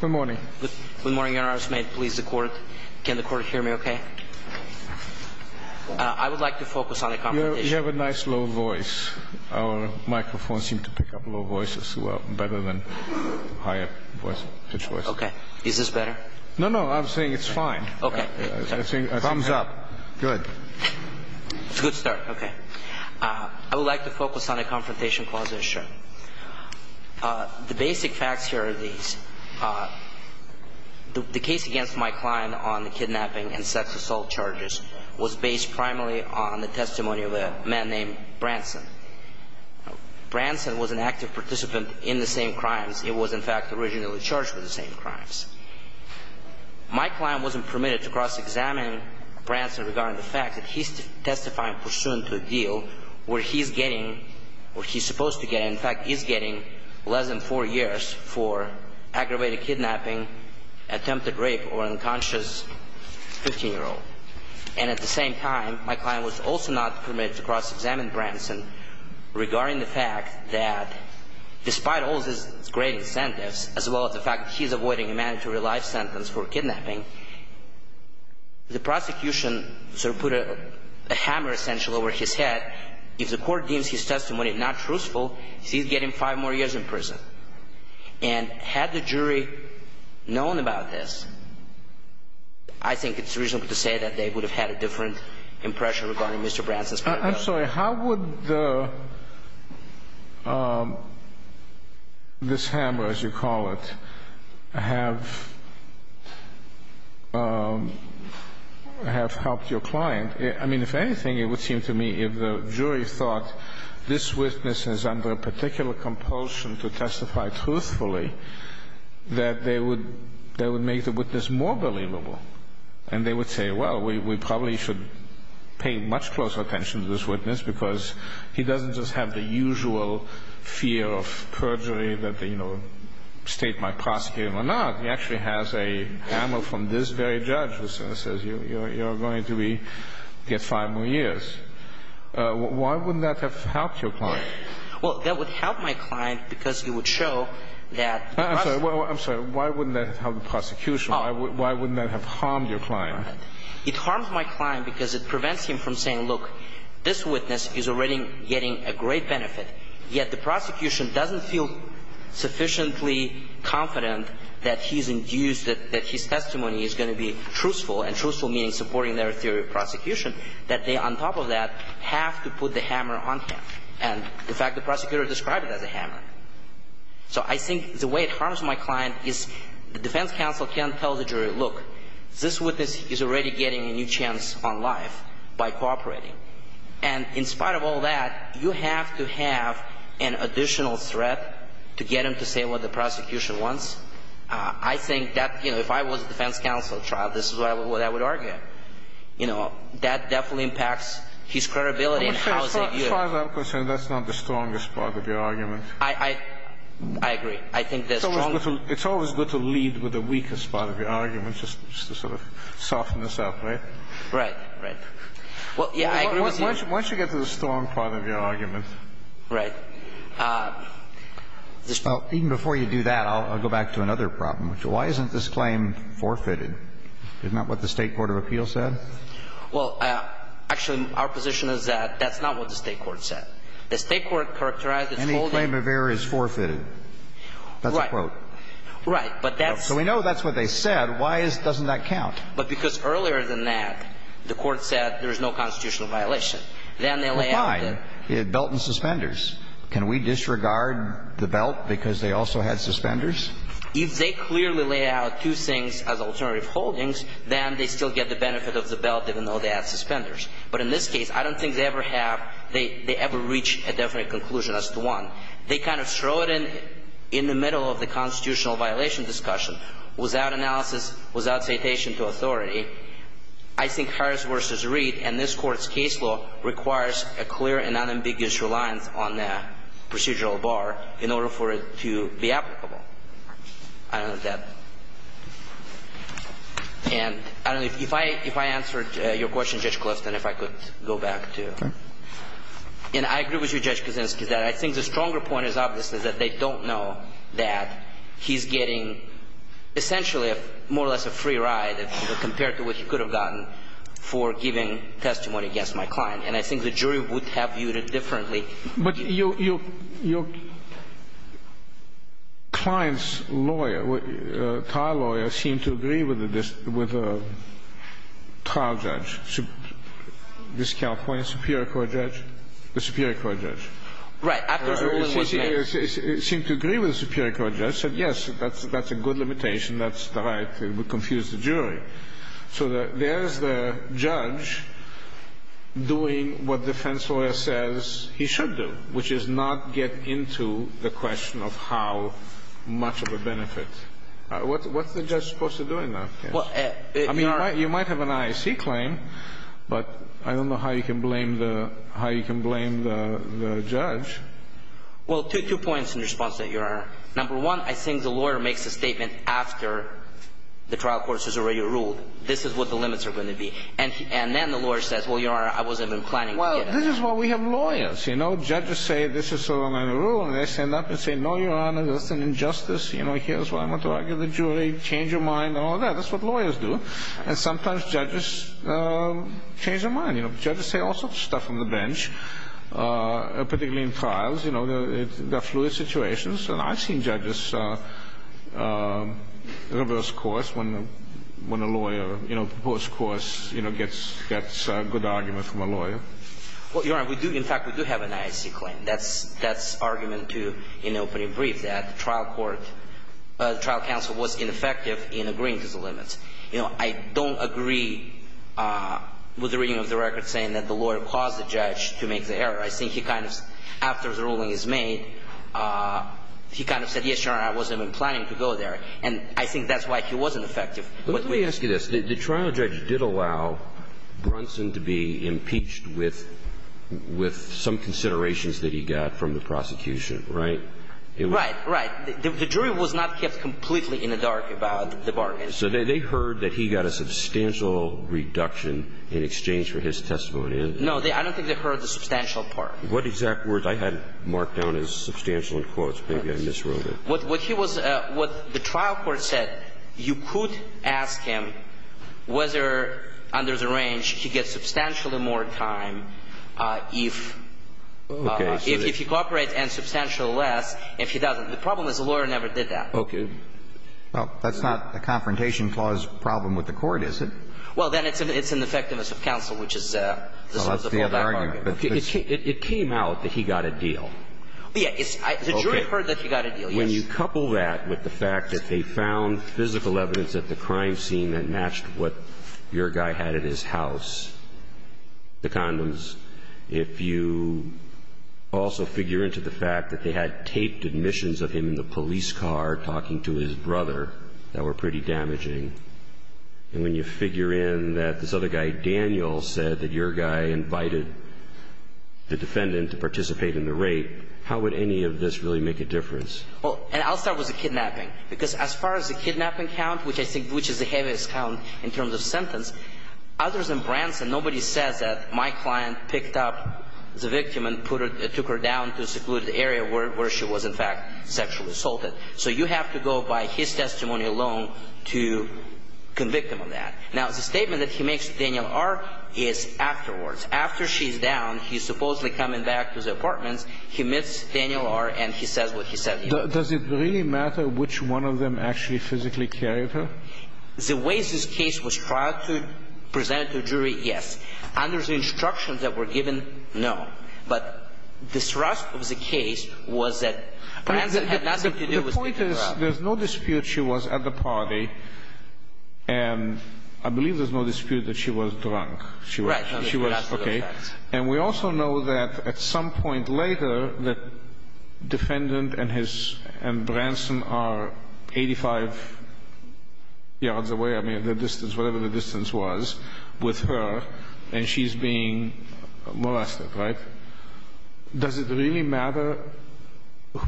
Good morning. Good morning, Your Honor. Can the court hear me okay? I would like to focus on a confrontation. You have a nice, low voice. Our microphones seem to pick up low voices better than higher pitched voices. Okay. Is this better? No, no. I'm saying it's fine. Thumbs up. Good. It's a good start. Okay. I would like to focus on a confrontation clause issue. The basic facts here are these. The case against my client on the kidnapping and sex assault charges was based primarily on the testimony of a man named Branson. Branson was an active participant in the same crimes. It was, in fact, originally charged with the same crimes. My client wasn't permitted to cross-examine Branson regarding the fact that he's testifying pursuant to a deal where he's getting, or he's supposed to get, in fact, he's getting less than four years for aggravated kidnapping, attempted rape, or unconscious 15-year-old. And at the same time, my client was also not permitted to cross-examine Branson regarding the fact that, despite all of his great incentives, as well as the fact that he's avoiding a mandatory life sentence for kidnapping, the prosecution sort of put a hammer, essentially, over his head. If the court deems his testimony not truthful, he's getting five more years in prison. And had the jury known about this, I think it's reasonable to say that they would have had a different impression regarding Mr. Branson's case. I'm sorry, how would this hammer, as you call it, have helped your client? I mean, if anything, it would seem to me if the jury thought this witness is under a particular compulsion to testify truthfully, that they would make the witness more believable. And they would say, well, we probably should pay much closer attention to this witness because he doesn't just have the usual fear of perjury that the state might prosecute him or not. He actually has a hammer from this very judge that says you're going to get five more years. Why wouldn't that have helped your client? Well, that would help my client because it would show that the prosecution... It harms your client. It harms my client because it prevents him from saying, look, this witness is already getting a great benefit, yet the prosecution doesn't feel sufficiently confident that he's induced, that his testimony is going to be truthful, and truthful meaning supporting their theory of prosecution, that they, on top of that, have to put the hammer on him. And, in fact, the prosecutor described it as a hammer. So I think the way it harms my client is the defense counsel can't tell the jury, look, this witness is already getting a new chance on life by cooperating. And in spite of all that, you have to have an additional threat to get him to say what the prosecution wants. I think that, you know, if I was a defense counsel trial, this is what I would argue. You know, that definitely impacts his credibility and how is he viewed. As far as I'm concerned, that's not the strongest part of your argument. I agree. It's always good to lead with the weakest part of your argument just to sort of soften this up, right? Right, right. Why don't you get to the strong part of your argument? Right. Even before you do that, I'll go back to another problem, which is why isn't this claim forfeited? Isn't that what the State Court of Appeals said? Well, actually, our position is that that's not what the State court said. The State court characterized its holding. Any claim of error is forfeited. Right. That's a quote. Right. But that's. So we know that's what they said. Why doesn't that count? But because earlier than that, the court said there is no constitutional violation. Then they lay out the. But why? It had belt and suspenders. Can we disregard the belt because they also had suspenders? If they clearly lay out two things as alternative holdings, then they still get the benefit of the belt even though they had suspenders. But in this case, I don't think they ever have they ever reach a definite conclusion as to one. They kind of throw it in in the middle of the constitutional violation discussion without analysis, without citation to authority. I think Harris v. Reed and this Court's case law requires a clear and unambiguous reliance on the procedural bar in order for it to be applicable. I don't know if that. And I don't know if I answered your question, Judge Kloft, and if I could go back to. Okay. And I agree with you, Judge Kuczynski, that I think the stronger point is obviously that they don't know that he's getting essentially more or less a free ride compared to what he could have gotten for giving testimony against my client. And I think the jury would have viewed it differently. But your client's lawyer, trial lawyer, seemed to agree with the trial judge, this California Superior Court judge, the Superior Court judge. Right. After ruling one case. It seemed to agree with the Superior Court judge. It said, yes, that's a good limitation. That's the right. It would confuse the jury. So there's the judge doing what defense lawyer says he should do, which is not get into the question of how much of a benefit. What's the judge supposed to do in that case? I mean, you might have an IAC claim, but I don't know how you can blame the judge. Well, two points in response to that, Your Honor. Number one, I think the lawyer makes a statement after the trial court has already ruled. This is what the limits are going to be. And then the lawyer says, well, Your Honor, I wasn't even planning to give. Well, this is why we have lawyers. You know, judges say this is a rule. And they stand up and say, no, Your Honor, this is an injustice. Here's why I'm going to argue with the jury. Change your mind and all that. That's what lawyers do. And sometimes judges change their mind. Judges say all sorts of stuff on the bench, particularly in trials. There are fluid situations. And I've seen judges reverse course when a lawyer, you know, post-course gets good argument from a lawyer. Well, Your Honor, we do, in fact, we do have an IAC claim. That's argument to, in the opening brief, that the trial court, the trial counsel was ineffective in agreeing to the limits. You know, I don't agree with the reading of the record saying that the lawyer caused the judge to make the error. I think he kind of, after the ruling is made, he kind of said, yes, Your Honor, I wasn't even planning to go there. And I think that's why he wasn't effective. Let me ask you this. The trial judge did allow Brunson to be impeached with some considerations that he got from the prosecution, right? Right, right. The jury was not kept completely in the dark about the bargain. So they heard that he got a substantial reduction in exchange for his testimony. No, I don't think they heard the substantial part. What exact words? I had it marked down as substantial in quotes. Maybe I miswrote it. What he was, what the trial court said, you could ask him whether under the range he gets substantially more time if he cooperates and substantially less if he doesn't. The problem is the lawyer never did that. Okay. Well, that's not a confrontation clause problem with the court, is it? Well, then it's an effectiveness of counsel, which is the substantial bargain. It came out that he got a deal. Yeah. The jury heard that he got a deal, yes. When you couple that with the fact that they found physical evidence at the crime scene that matched what your guy had at his house, the condoms, if you also figure into the fact that they had taped admissions of him in the police car talking to his brother, that were pretty damaging. And when you figure in that this other guy, Daniel, said that your guy invited the defendant to participate in the rape, how would any of this really make a difference? Well, and I'll start with the kidnapping. Because as far as the kidnapping count, which I think is the heaviest count in terms of sentence, others in Branson, nobody says that my client picked up the victim and took her down to a secluded area where she was, in fact, sexually assaulted. So you have to go by his testimony alone to convict him of that. Now, the statement that he makes to Daniel R. is afterwards. After she's down, he's supposedly coming back to the apartments. He meets Daniel R. and he says what he said. Does it really matter which one of them actually physically carried her? The way this case was presented to a jury, yes. Under the instructions that were given, no. But the thrust of the case was that Branson had nothing to do with the kidnapping. The point is there's no dispute she was at the party, and I believe there's no dispute that she was drunk. Right. She was. Okay. And we also know that at some point later, the defendant and his – and Branson are 85 yards away, I mean, the distance, whatever the distance was, with her, and she's being molested, right? Does it really matter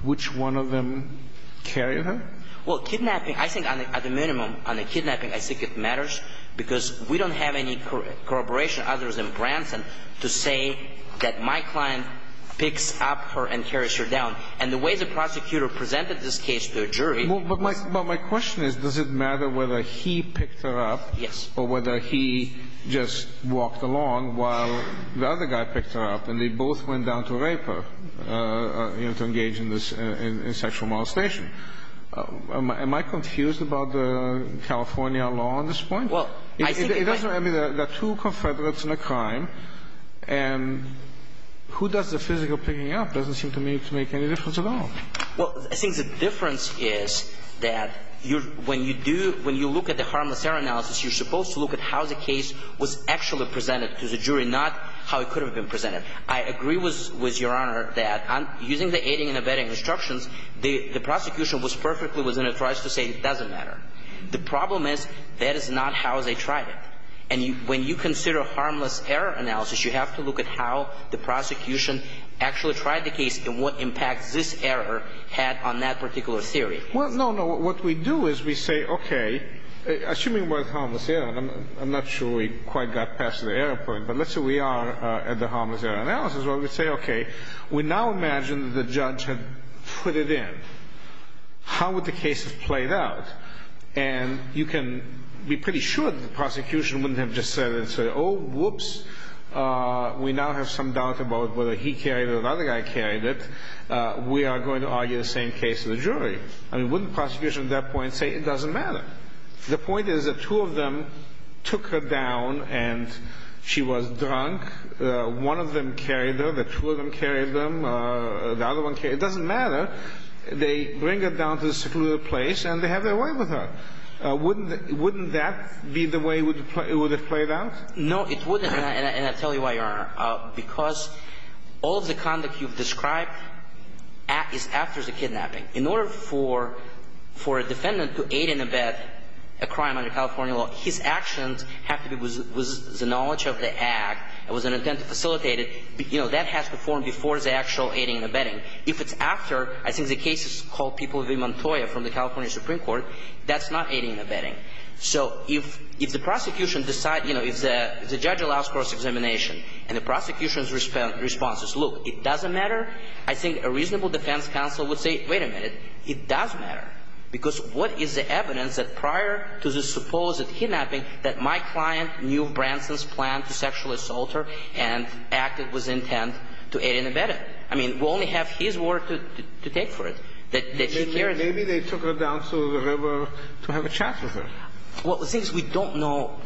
which one of them carried her? Well, kidnapping – I think at the minimum, on the kidnapping, I think it matters because we don't have any corroboration, others and Branson, to say that my client picks up her and carries her down. And the way the prosecutor presented this case to a jury – Well, my question is, does it matter whether he picked her up – Yes. Or whether he just walked along while the other guy picked her up, and they both went down to rape her to engage in sexual molestation? Am I confused about the California law on this point? Well, I think – It doesn't – I mean, there are two Confederates in a crime, and who does the physical picking up? It doesn't seem to me to make any difference at all. Well, I think the difference is that when you do – when you look at the harmless error analysis, you're supposed to look at how the case was actually presented to the jury, not how it could have been presented. I agree with Your Honor that using the aiding and abetting instructions, the prosecution was perfectly – was going to try to say it doesn't matter. The problem is that is not how they tried it. And when you consider harmless error analysis, you have to look at how the prosecution actually tried the case and what impact this error had on that particular theory. Well, no, no. What we do is we say, okay, assuming it was harmless error, and I'm not sure we quite got past the error point, but let's say we are at the harmless error analysis. Well, we say, okay, we now imagine that the judge had put it in. How would the case have played out? And you can be pretty sure that the prosecution wouldn't have just said, oh, whoops, we now have some doubt about whether he carried it or the other guy carried it. We are going to argue the same case to the jury. I mean, wouldn't the prosecution at that point say it doesn't matter? The point is that two of them took her down and she was drunk. One of them carried her. The two of them carried them. The other one carried her. It doesn't matter. They bring her down to the secluded place and they have their way with her. Wouldn't that be the way it would have played out? No, it wouldn't. And I'll tell you why, Your Honor. Because all of the conduct you've described is after the kidnapping. In order for a defendant to aid and abet a crime under California law, his actions have to be with the knowledge of the act. It was an attempt to facilitate it. You know, that has to form before the actual aiding and abetting. If it's after, I think the case is called People v. Montoya from the California Supreme Court, that's not aiding and abetting. So if the prosecution decides, you know, if the judge allows cross-examination and the prosecution's response is, look, it doesn't matter, I think a reasonable defense counsel would say, wait a minute, it does matter. Because what is the evidence that prior to the supposed kidnapping that my client knew Branson's plan to sexually assault her and acted with intent to aid and abet her? I mean, we only have his word to take for it, that he carried her. Maybe they took her down to the river to have a chat with her. Well, since we don't know,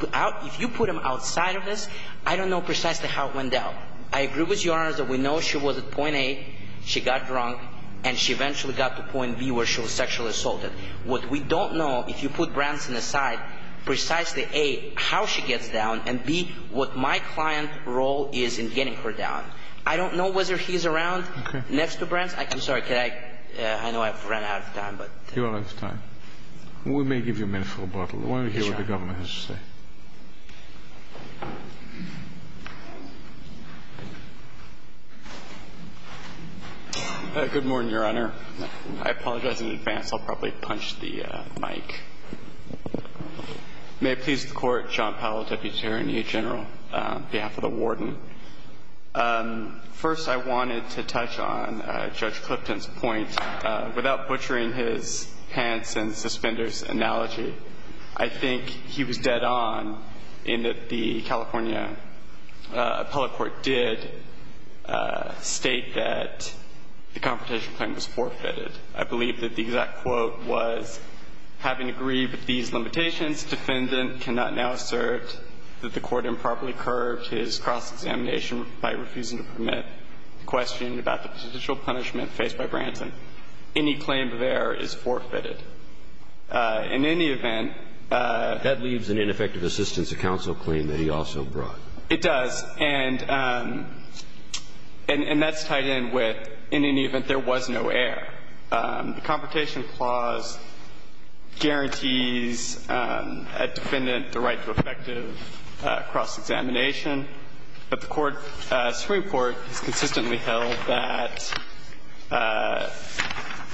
if you put him outside of this, I don't know precisely how it went down. I agree with Your Honor that we know she was at point A, she got drunk, and she eventually got to point B where she was sexually assaulted. What we don't know, if you put Branson aside, precisely A, how she gets down, and B, what my client's role is in getting her down. I don't know whether he's around next to Branson. I'm sorry, can I? I know I've run out of time, but. You're out of time. We may give you a minute for rebuttal. Why don't we hear what the Governor has to say. Sure. Good morning, Your Honor. I apologize in advance. I'll probably punch the mic. May it please the Court, John Powell, Deputy Attorney General, on behalf of the Warden. First, I wanted to touch on Judge Clifton's point. Without butchering his pants and suspenders analogy, I think he was dead on in that the California appellate court did state that the confrontation claim was forfeited. I believe that the exact quote was, having agreed with these limitations, defendant cannot now assert that the court improperly curbed his cross-examination by refusing to permit questioning about the potential punishment faced by Branson. Any claim of error is forfeited. In any event. That leaves an ineffective assistance to counsel claim that he also brought. It does. And that's tied in with, in any event, there was no error. The confrontation clause guarantees a defendant the right to effective cross-examination. But the Supreme Court has consistently held that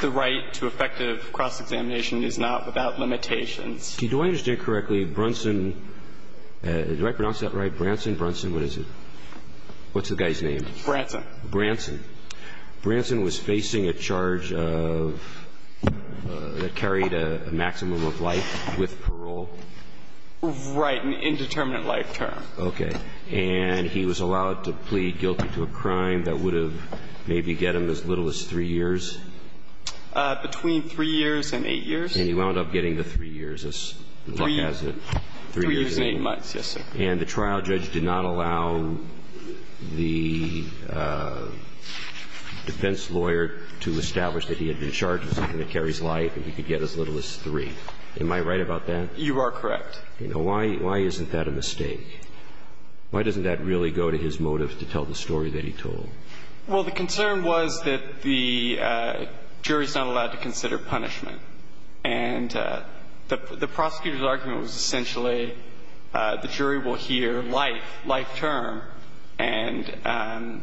the right to effective cross-examination is not without limitations. Do I understand correctly, Branson – do I pronounce that right? Branson, Branson, what is it? What's the guy's name? Branson. Branson. Branson was facing a charge of – that carried a maximum of life with parole? Right. An indeterminate life term. Okay. And he was allowed to plead guilty to a crime that would have maybe get him as little as three years? Between three years and eight years. And he wound up getting the three years, as luck has it. Three years and eight months, yes, sir. And the trial judge did not allow the defense lawyer to establish that he had been charged with something that carries life and he could get as little as three. Am I right about that? You are correct. Why isn't that a mistake? Why doesn't that really go to his motive to tell the story that he told? Well, the concern was that the jury is not allowed to consider punishment. And the prosecutor's argument was essentially the jury will hear life, life term, and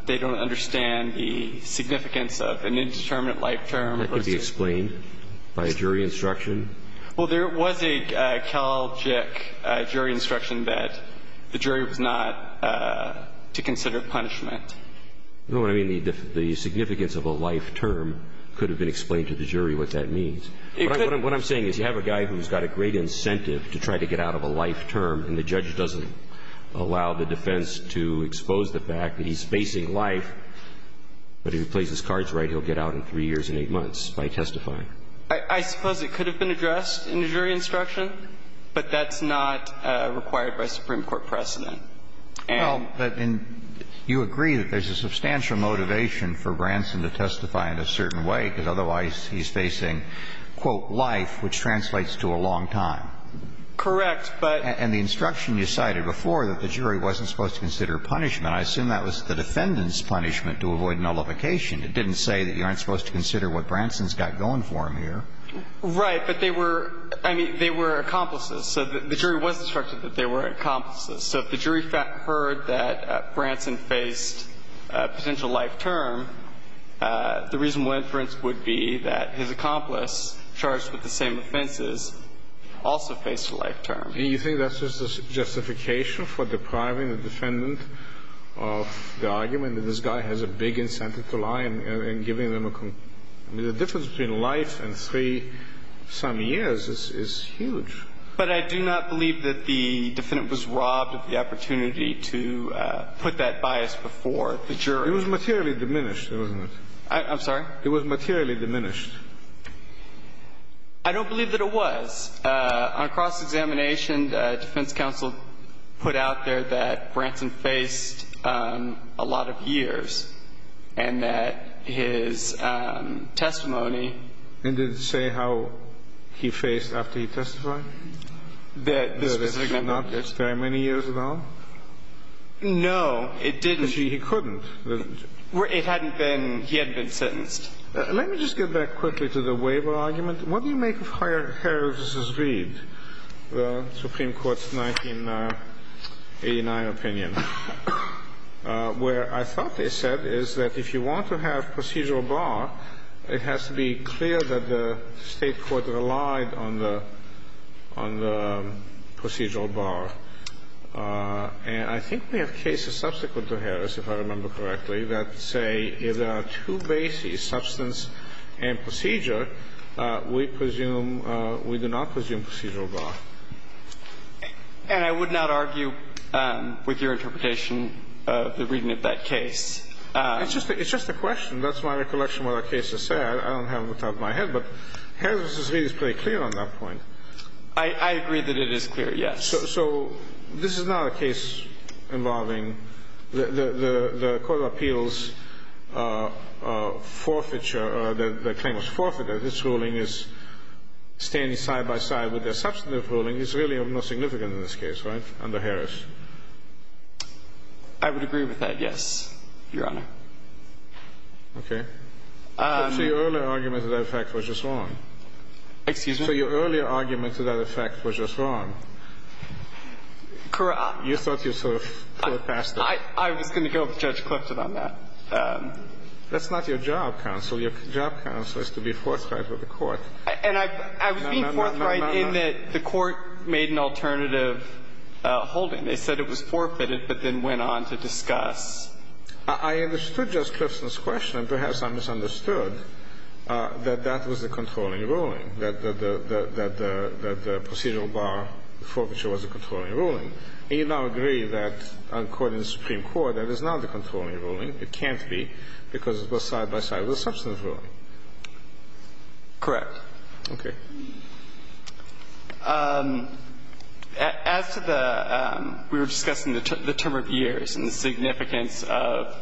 they don't understand the significance of an indeterminate life term. That could be explained by a jury instruction? Well, there was a Kelloggic jury instruction that the jury was not to consider punishment. You know what I mean? The significance of a life term could have been explained to the jury what that means. What I'm saying is you have a guy who's got a great incentive to try to get out of a life term, and the judge doesn't allow the defense to expose the fact that he's facing life, but if he plays his cards right, he'll get out in three years and eight months by testifying. I suppose it could have been addressed in the jury instruction, but that's not required by Supreme Court precedent. Well, but then you agree that there's a substantial motivation for Branson to testify in a certain way, because otherwise he's facing, quote, life, which translates to a long time. Correct. But the instruction you cited before that the jury wasn't supposed to consider punishment, I assume that was the defendant's punishment to avoid nullification. It didn't say that you aren't supposed to consider what Branson's got going for him here. Right. But they were, I mean, they were accomplices. So the jury was instructed that they were accomplices. So if the jury heard that Branson faced a potential life term, the reasonable inference would be that his accomplice, charged with the same offenses, also faced a life term. Do you think that's just a justification for depriving the defendant of the argument that this guy has a big incentive to lie and giving them a, I mean, the difference between life and three-some years is huge. But I do not believe that the defendant was robbed of the opportunity to put that bias before the jury. It was materially diminished, wasn't it? I'm sorry? It was materially diminished. I don't believe that it was. On cross-examination, defense counsel put out there that Branson faced a lot of years and that his testimony. And did it say how he faced after he testified? That this was a good argument. No, it did not. It's very many years ago. No, it didn't. Actually, he couldn't. Well, it hadn't been. He hadn't been sentenced. Let me just get back quickly to the Waver argument. What do you make of Harris v. Reed, the Supreme Court's 1989 opinion, where I thought they said is that if you want to have procedural bar, it has to be clear that the State court relied on the procedural bar. And I think we have cases subsequent to Harris, if I remember correctly, that say if there are two bases, substance and procedure, we presume we do not presume procedural bar. And I would not argue with your interpretation of the reading of that case. It's just a question. That's my recollection of what the case has said. I don't have it on the top of my head. But Harris v. Reed is pretty clear on that point. I agree that it is clear, yes. So this is not a case involving the court of appeals forfeiture or the claim of forfeiture. This ruling is standing side-by-side with the substantive ruling. It's really not significant in this case, right, under Harris? I would agree with that, yes, Your Honor. Okay. So your earlier argument to that effect was just wrong. Excuse me? So your earlier argument to that effect was just wrong. You thought you sort of thought past it. I was going to go with Judge Clifton on that. That's not your job, counsel. Your job, counsel, is to be forthright with the court. And I was being forthright in that the court made an alternative holding. They said it was forfeited but then went on to discuss. I understood Judge Clifton's question, and perhaps I misunderstood, that that was the controlling ruling, that the procedural bar forfeiture was a controlling ruling. And you now agree that, according to the Supreme Court, that is not the controlling ruling. It can't be, because it's both side-by-side with the substantive ruling. Correct. Okay. As to the we were discussing the term of years and the significance of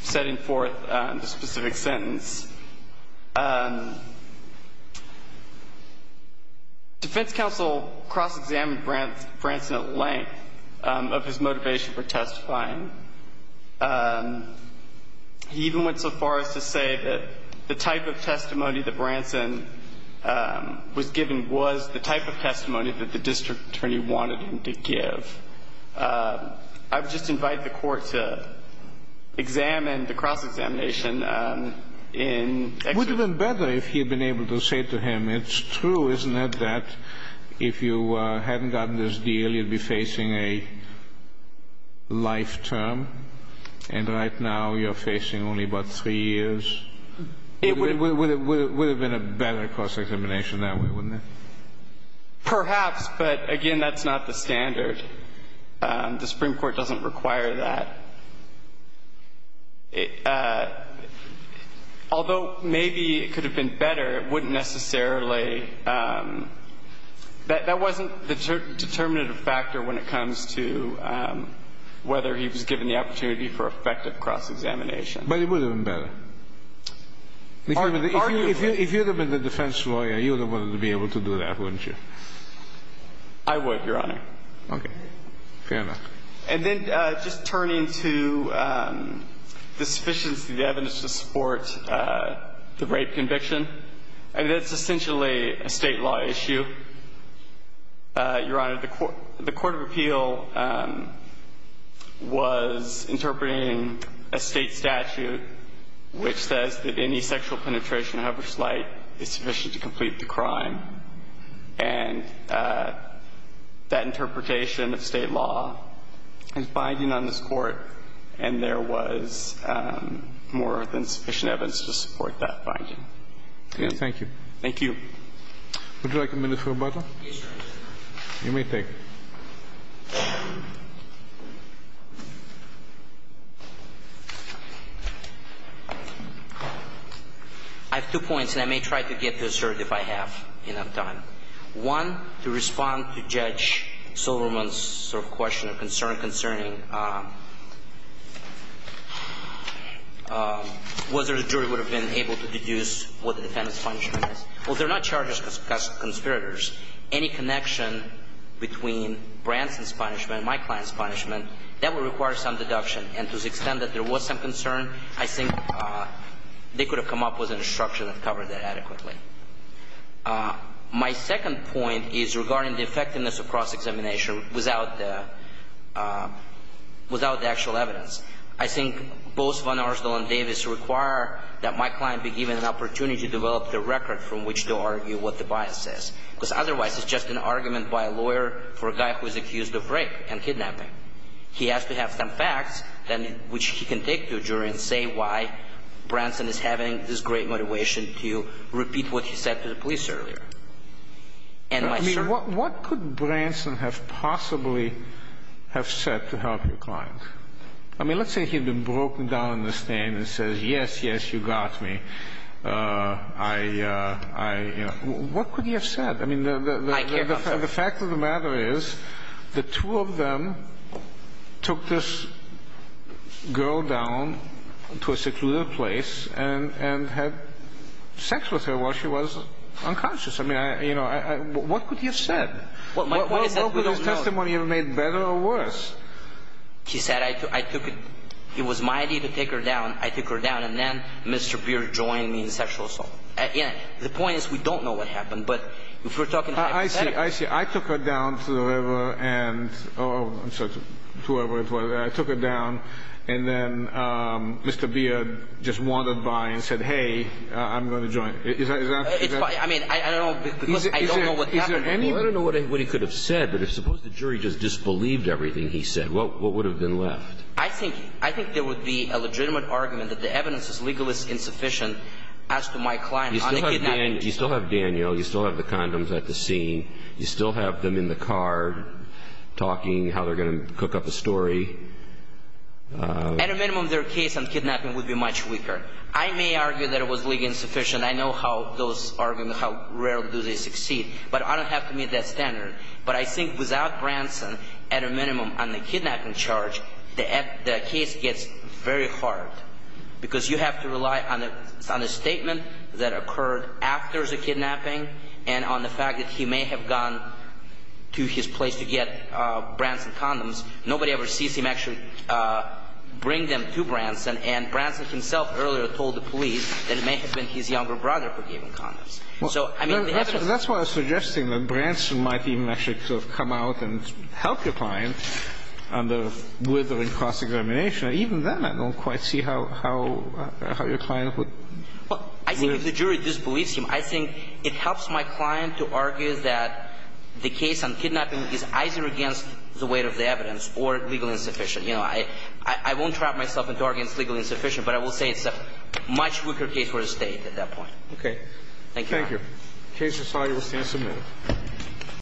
setting forth the specific sentence, defense counsel cross-examined Branson at length of his He even went so far as to say that the type of testimony that Branson was giving was the type of testimony that the district attorney wanted him to give. I would just invite the court to examine the cross-examination in extra detail. It would have been better if he had been able to say to him, it's true, isn't it, that if you hadn't gotten this deal, you'd be facing a life term, and right now you're facing only about three years? It would have been a better cross-examination that way, wouldn't it? Perhaps, but, again, that's not the standard. The Supreme Court doesn't require that. Although maybe it could have been better, it wouldn't necessarily – that wasn't the determinative factor when it comes to whether he was given the opportunity for effective cross-examination. But it would have been better. Arguably. If you had been the defense lawyer, you would have wanted to be able to do that, wouldn't you? I would, Your Honor. Okay. Fair enough. And then just turning to the sufficiency of the evidence to support the rape conviction. I mean, that's essentially a state law issue, Your Honor. The Court of Appeal was interpreting a state statute which says that any sexual penetration, however slight, is sufficient to complete the crime. And that interpretation of state law is binding on this Court, and there was more than sufficient evidence to support that finding. Okay. Thank you. Thank you. Would you like a minute for rebuttal? Yes, Your Honor. You may take it. I have two points, and I may try to get to a cert if I have enough time. One, to respond to Judge Silverman's sort of question or concern concerning whether the jury would have been able to deduce what the defendant's punishment is. Well, they're not charged as conspirators. Any connection between Branson's punishment and my client's punishment, that would require some deduction. And to the extent that there was some concern, I think they could have come up with an instruction that covered that adequately. My second point is regarding the effectiveness of cross-examination without the actual evidence. I think both von Arsdall and Davis require that my client be given an opportunity to develop the record from which to argue what the bias is. Because otherwise, it's just an argument by a lawyer for a guy who is accused of rape and kidnapping. He has to have some facts, then, which he can take to a jury and say why Branson is having this great motivation to repeat what he said to the police earlier. And my cert. I mean, what could Branson have possibly have said to help your client? I mean, let's say he had been broken down in the stain and says, yes, yes, you got me. I, you know, what could he have said? I mean, the fact of the matter is the two of them, took this girl down to a secluded place and had sex with her while she was unconscious. I mean, you know, what could he have said? What could his testimony have made better or worse? He said I took it. It was my idea to take her down. I took her down. And then Mr. Beer joined me in sexual assault. Again, the point is we don't know what happened. But if we're talking hypotheticals. I see. I see. And I took her down. And then Mr. Beer just wandered by and said, hey, I'm going to join. I mean, I don't know what he could have said. But if suppose the jury just disbelieved everything he said, what would have been left? I think I think there would be a legitimate argument that the evidence is legal is insufficient as to my client. You still have Daniel. You still have the condoms at the scene. You still have them in the car talking how they're going to cook up a story. At a minimum, their case on kidnapping would be much weaker. I may argue that it was legal insufficient. I know how those arguments, how rarely do they succeed. But I don't have to meet that standard. But I think without Branson, at a minimum, on the kidnapping charge, the case gets very hard. Because you have to rely on the statement that occurred after the kidnapping and on the fact that he may have gone to his place to get Branson condoms. Nobody ever sees him actually bring them to Branson. And Branson himself earlier told the police that it may have been his younger brother who gave him condoms. So, I mean, the evidence. That's why I'm suggesting that Branson might even actually sort of come out and help your client on the withering cross-examination. Even then, I don't quite see how your client would. Well, I think if the jury disbelieves him, I think it helps my client to argue that the case on kidnapping is either against the weight of the evidence or legally insufficient. You know, I won't trap myself into arguing it's legally insufficient, but I will say it's a much weaker case for the State at that point. Okay. Thank you, Your Honor. Thank you. The case is signed and will stand submitted.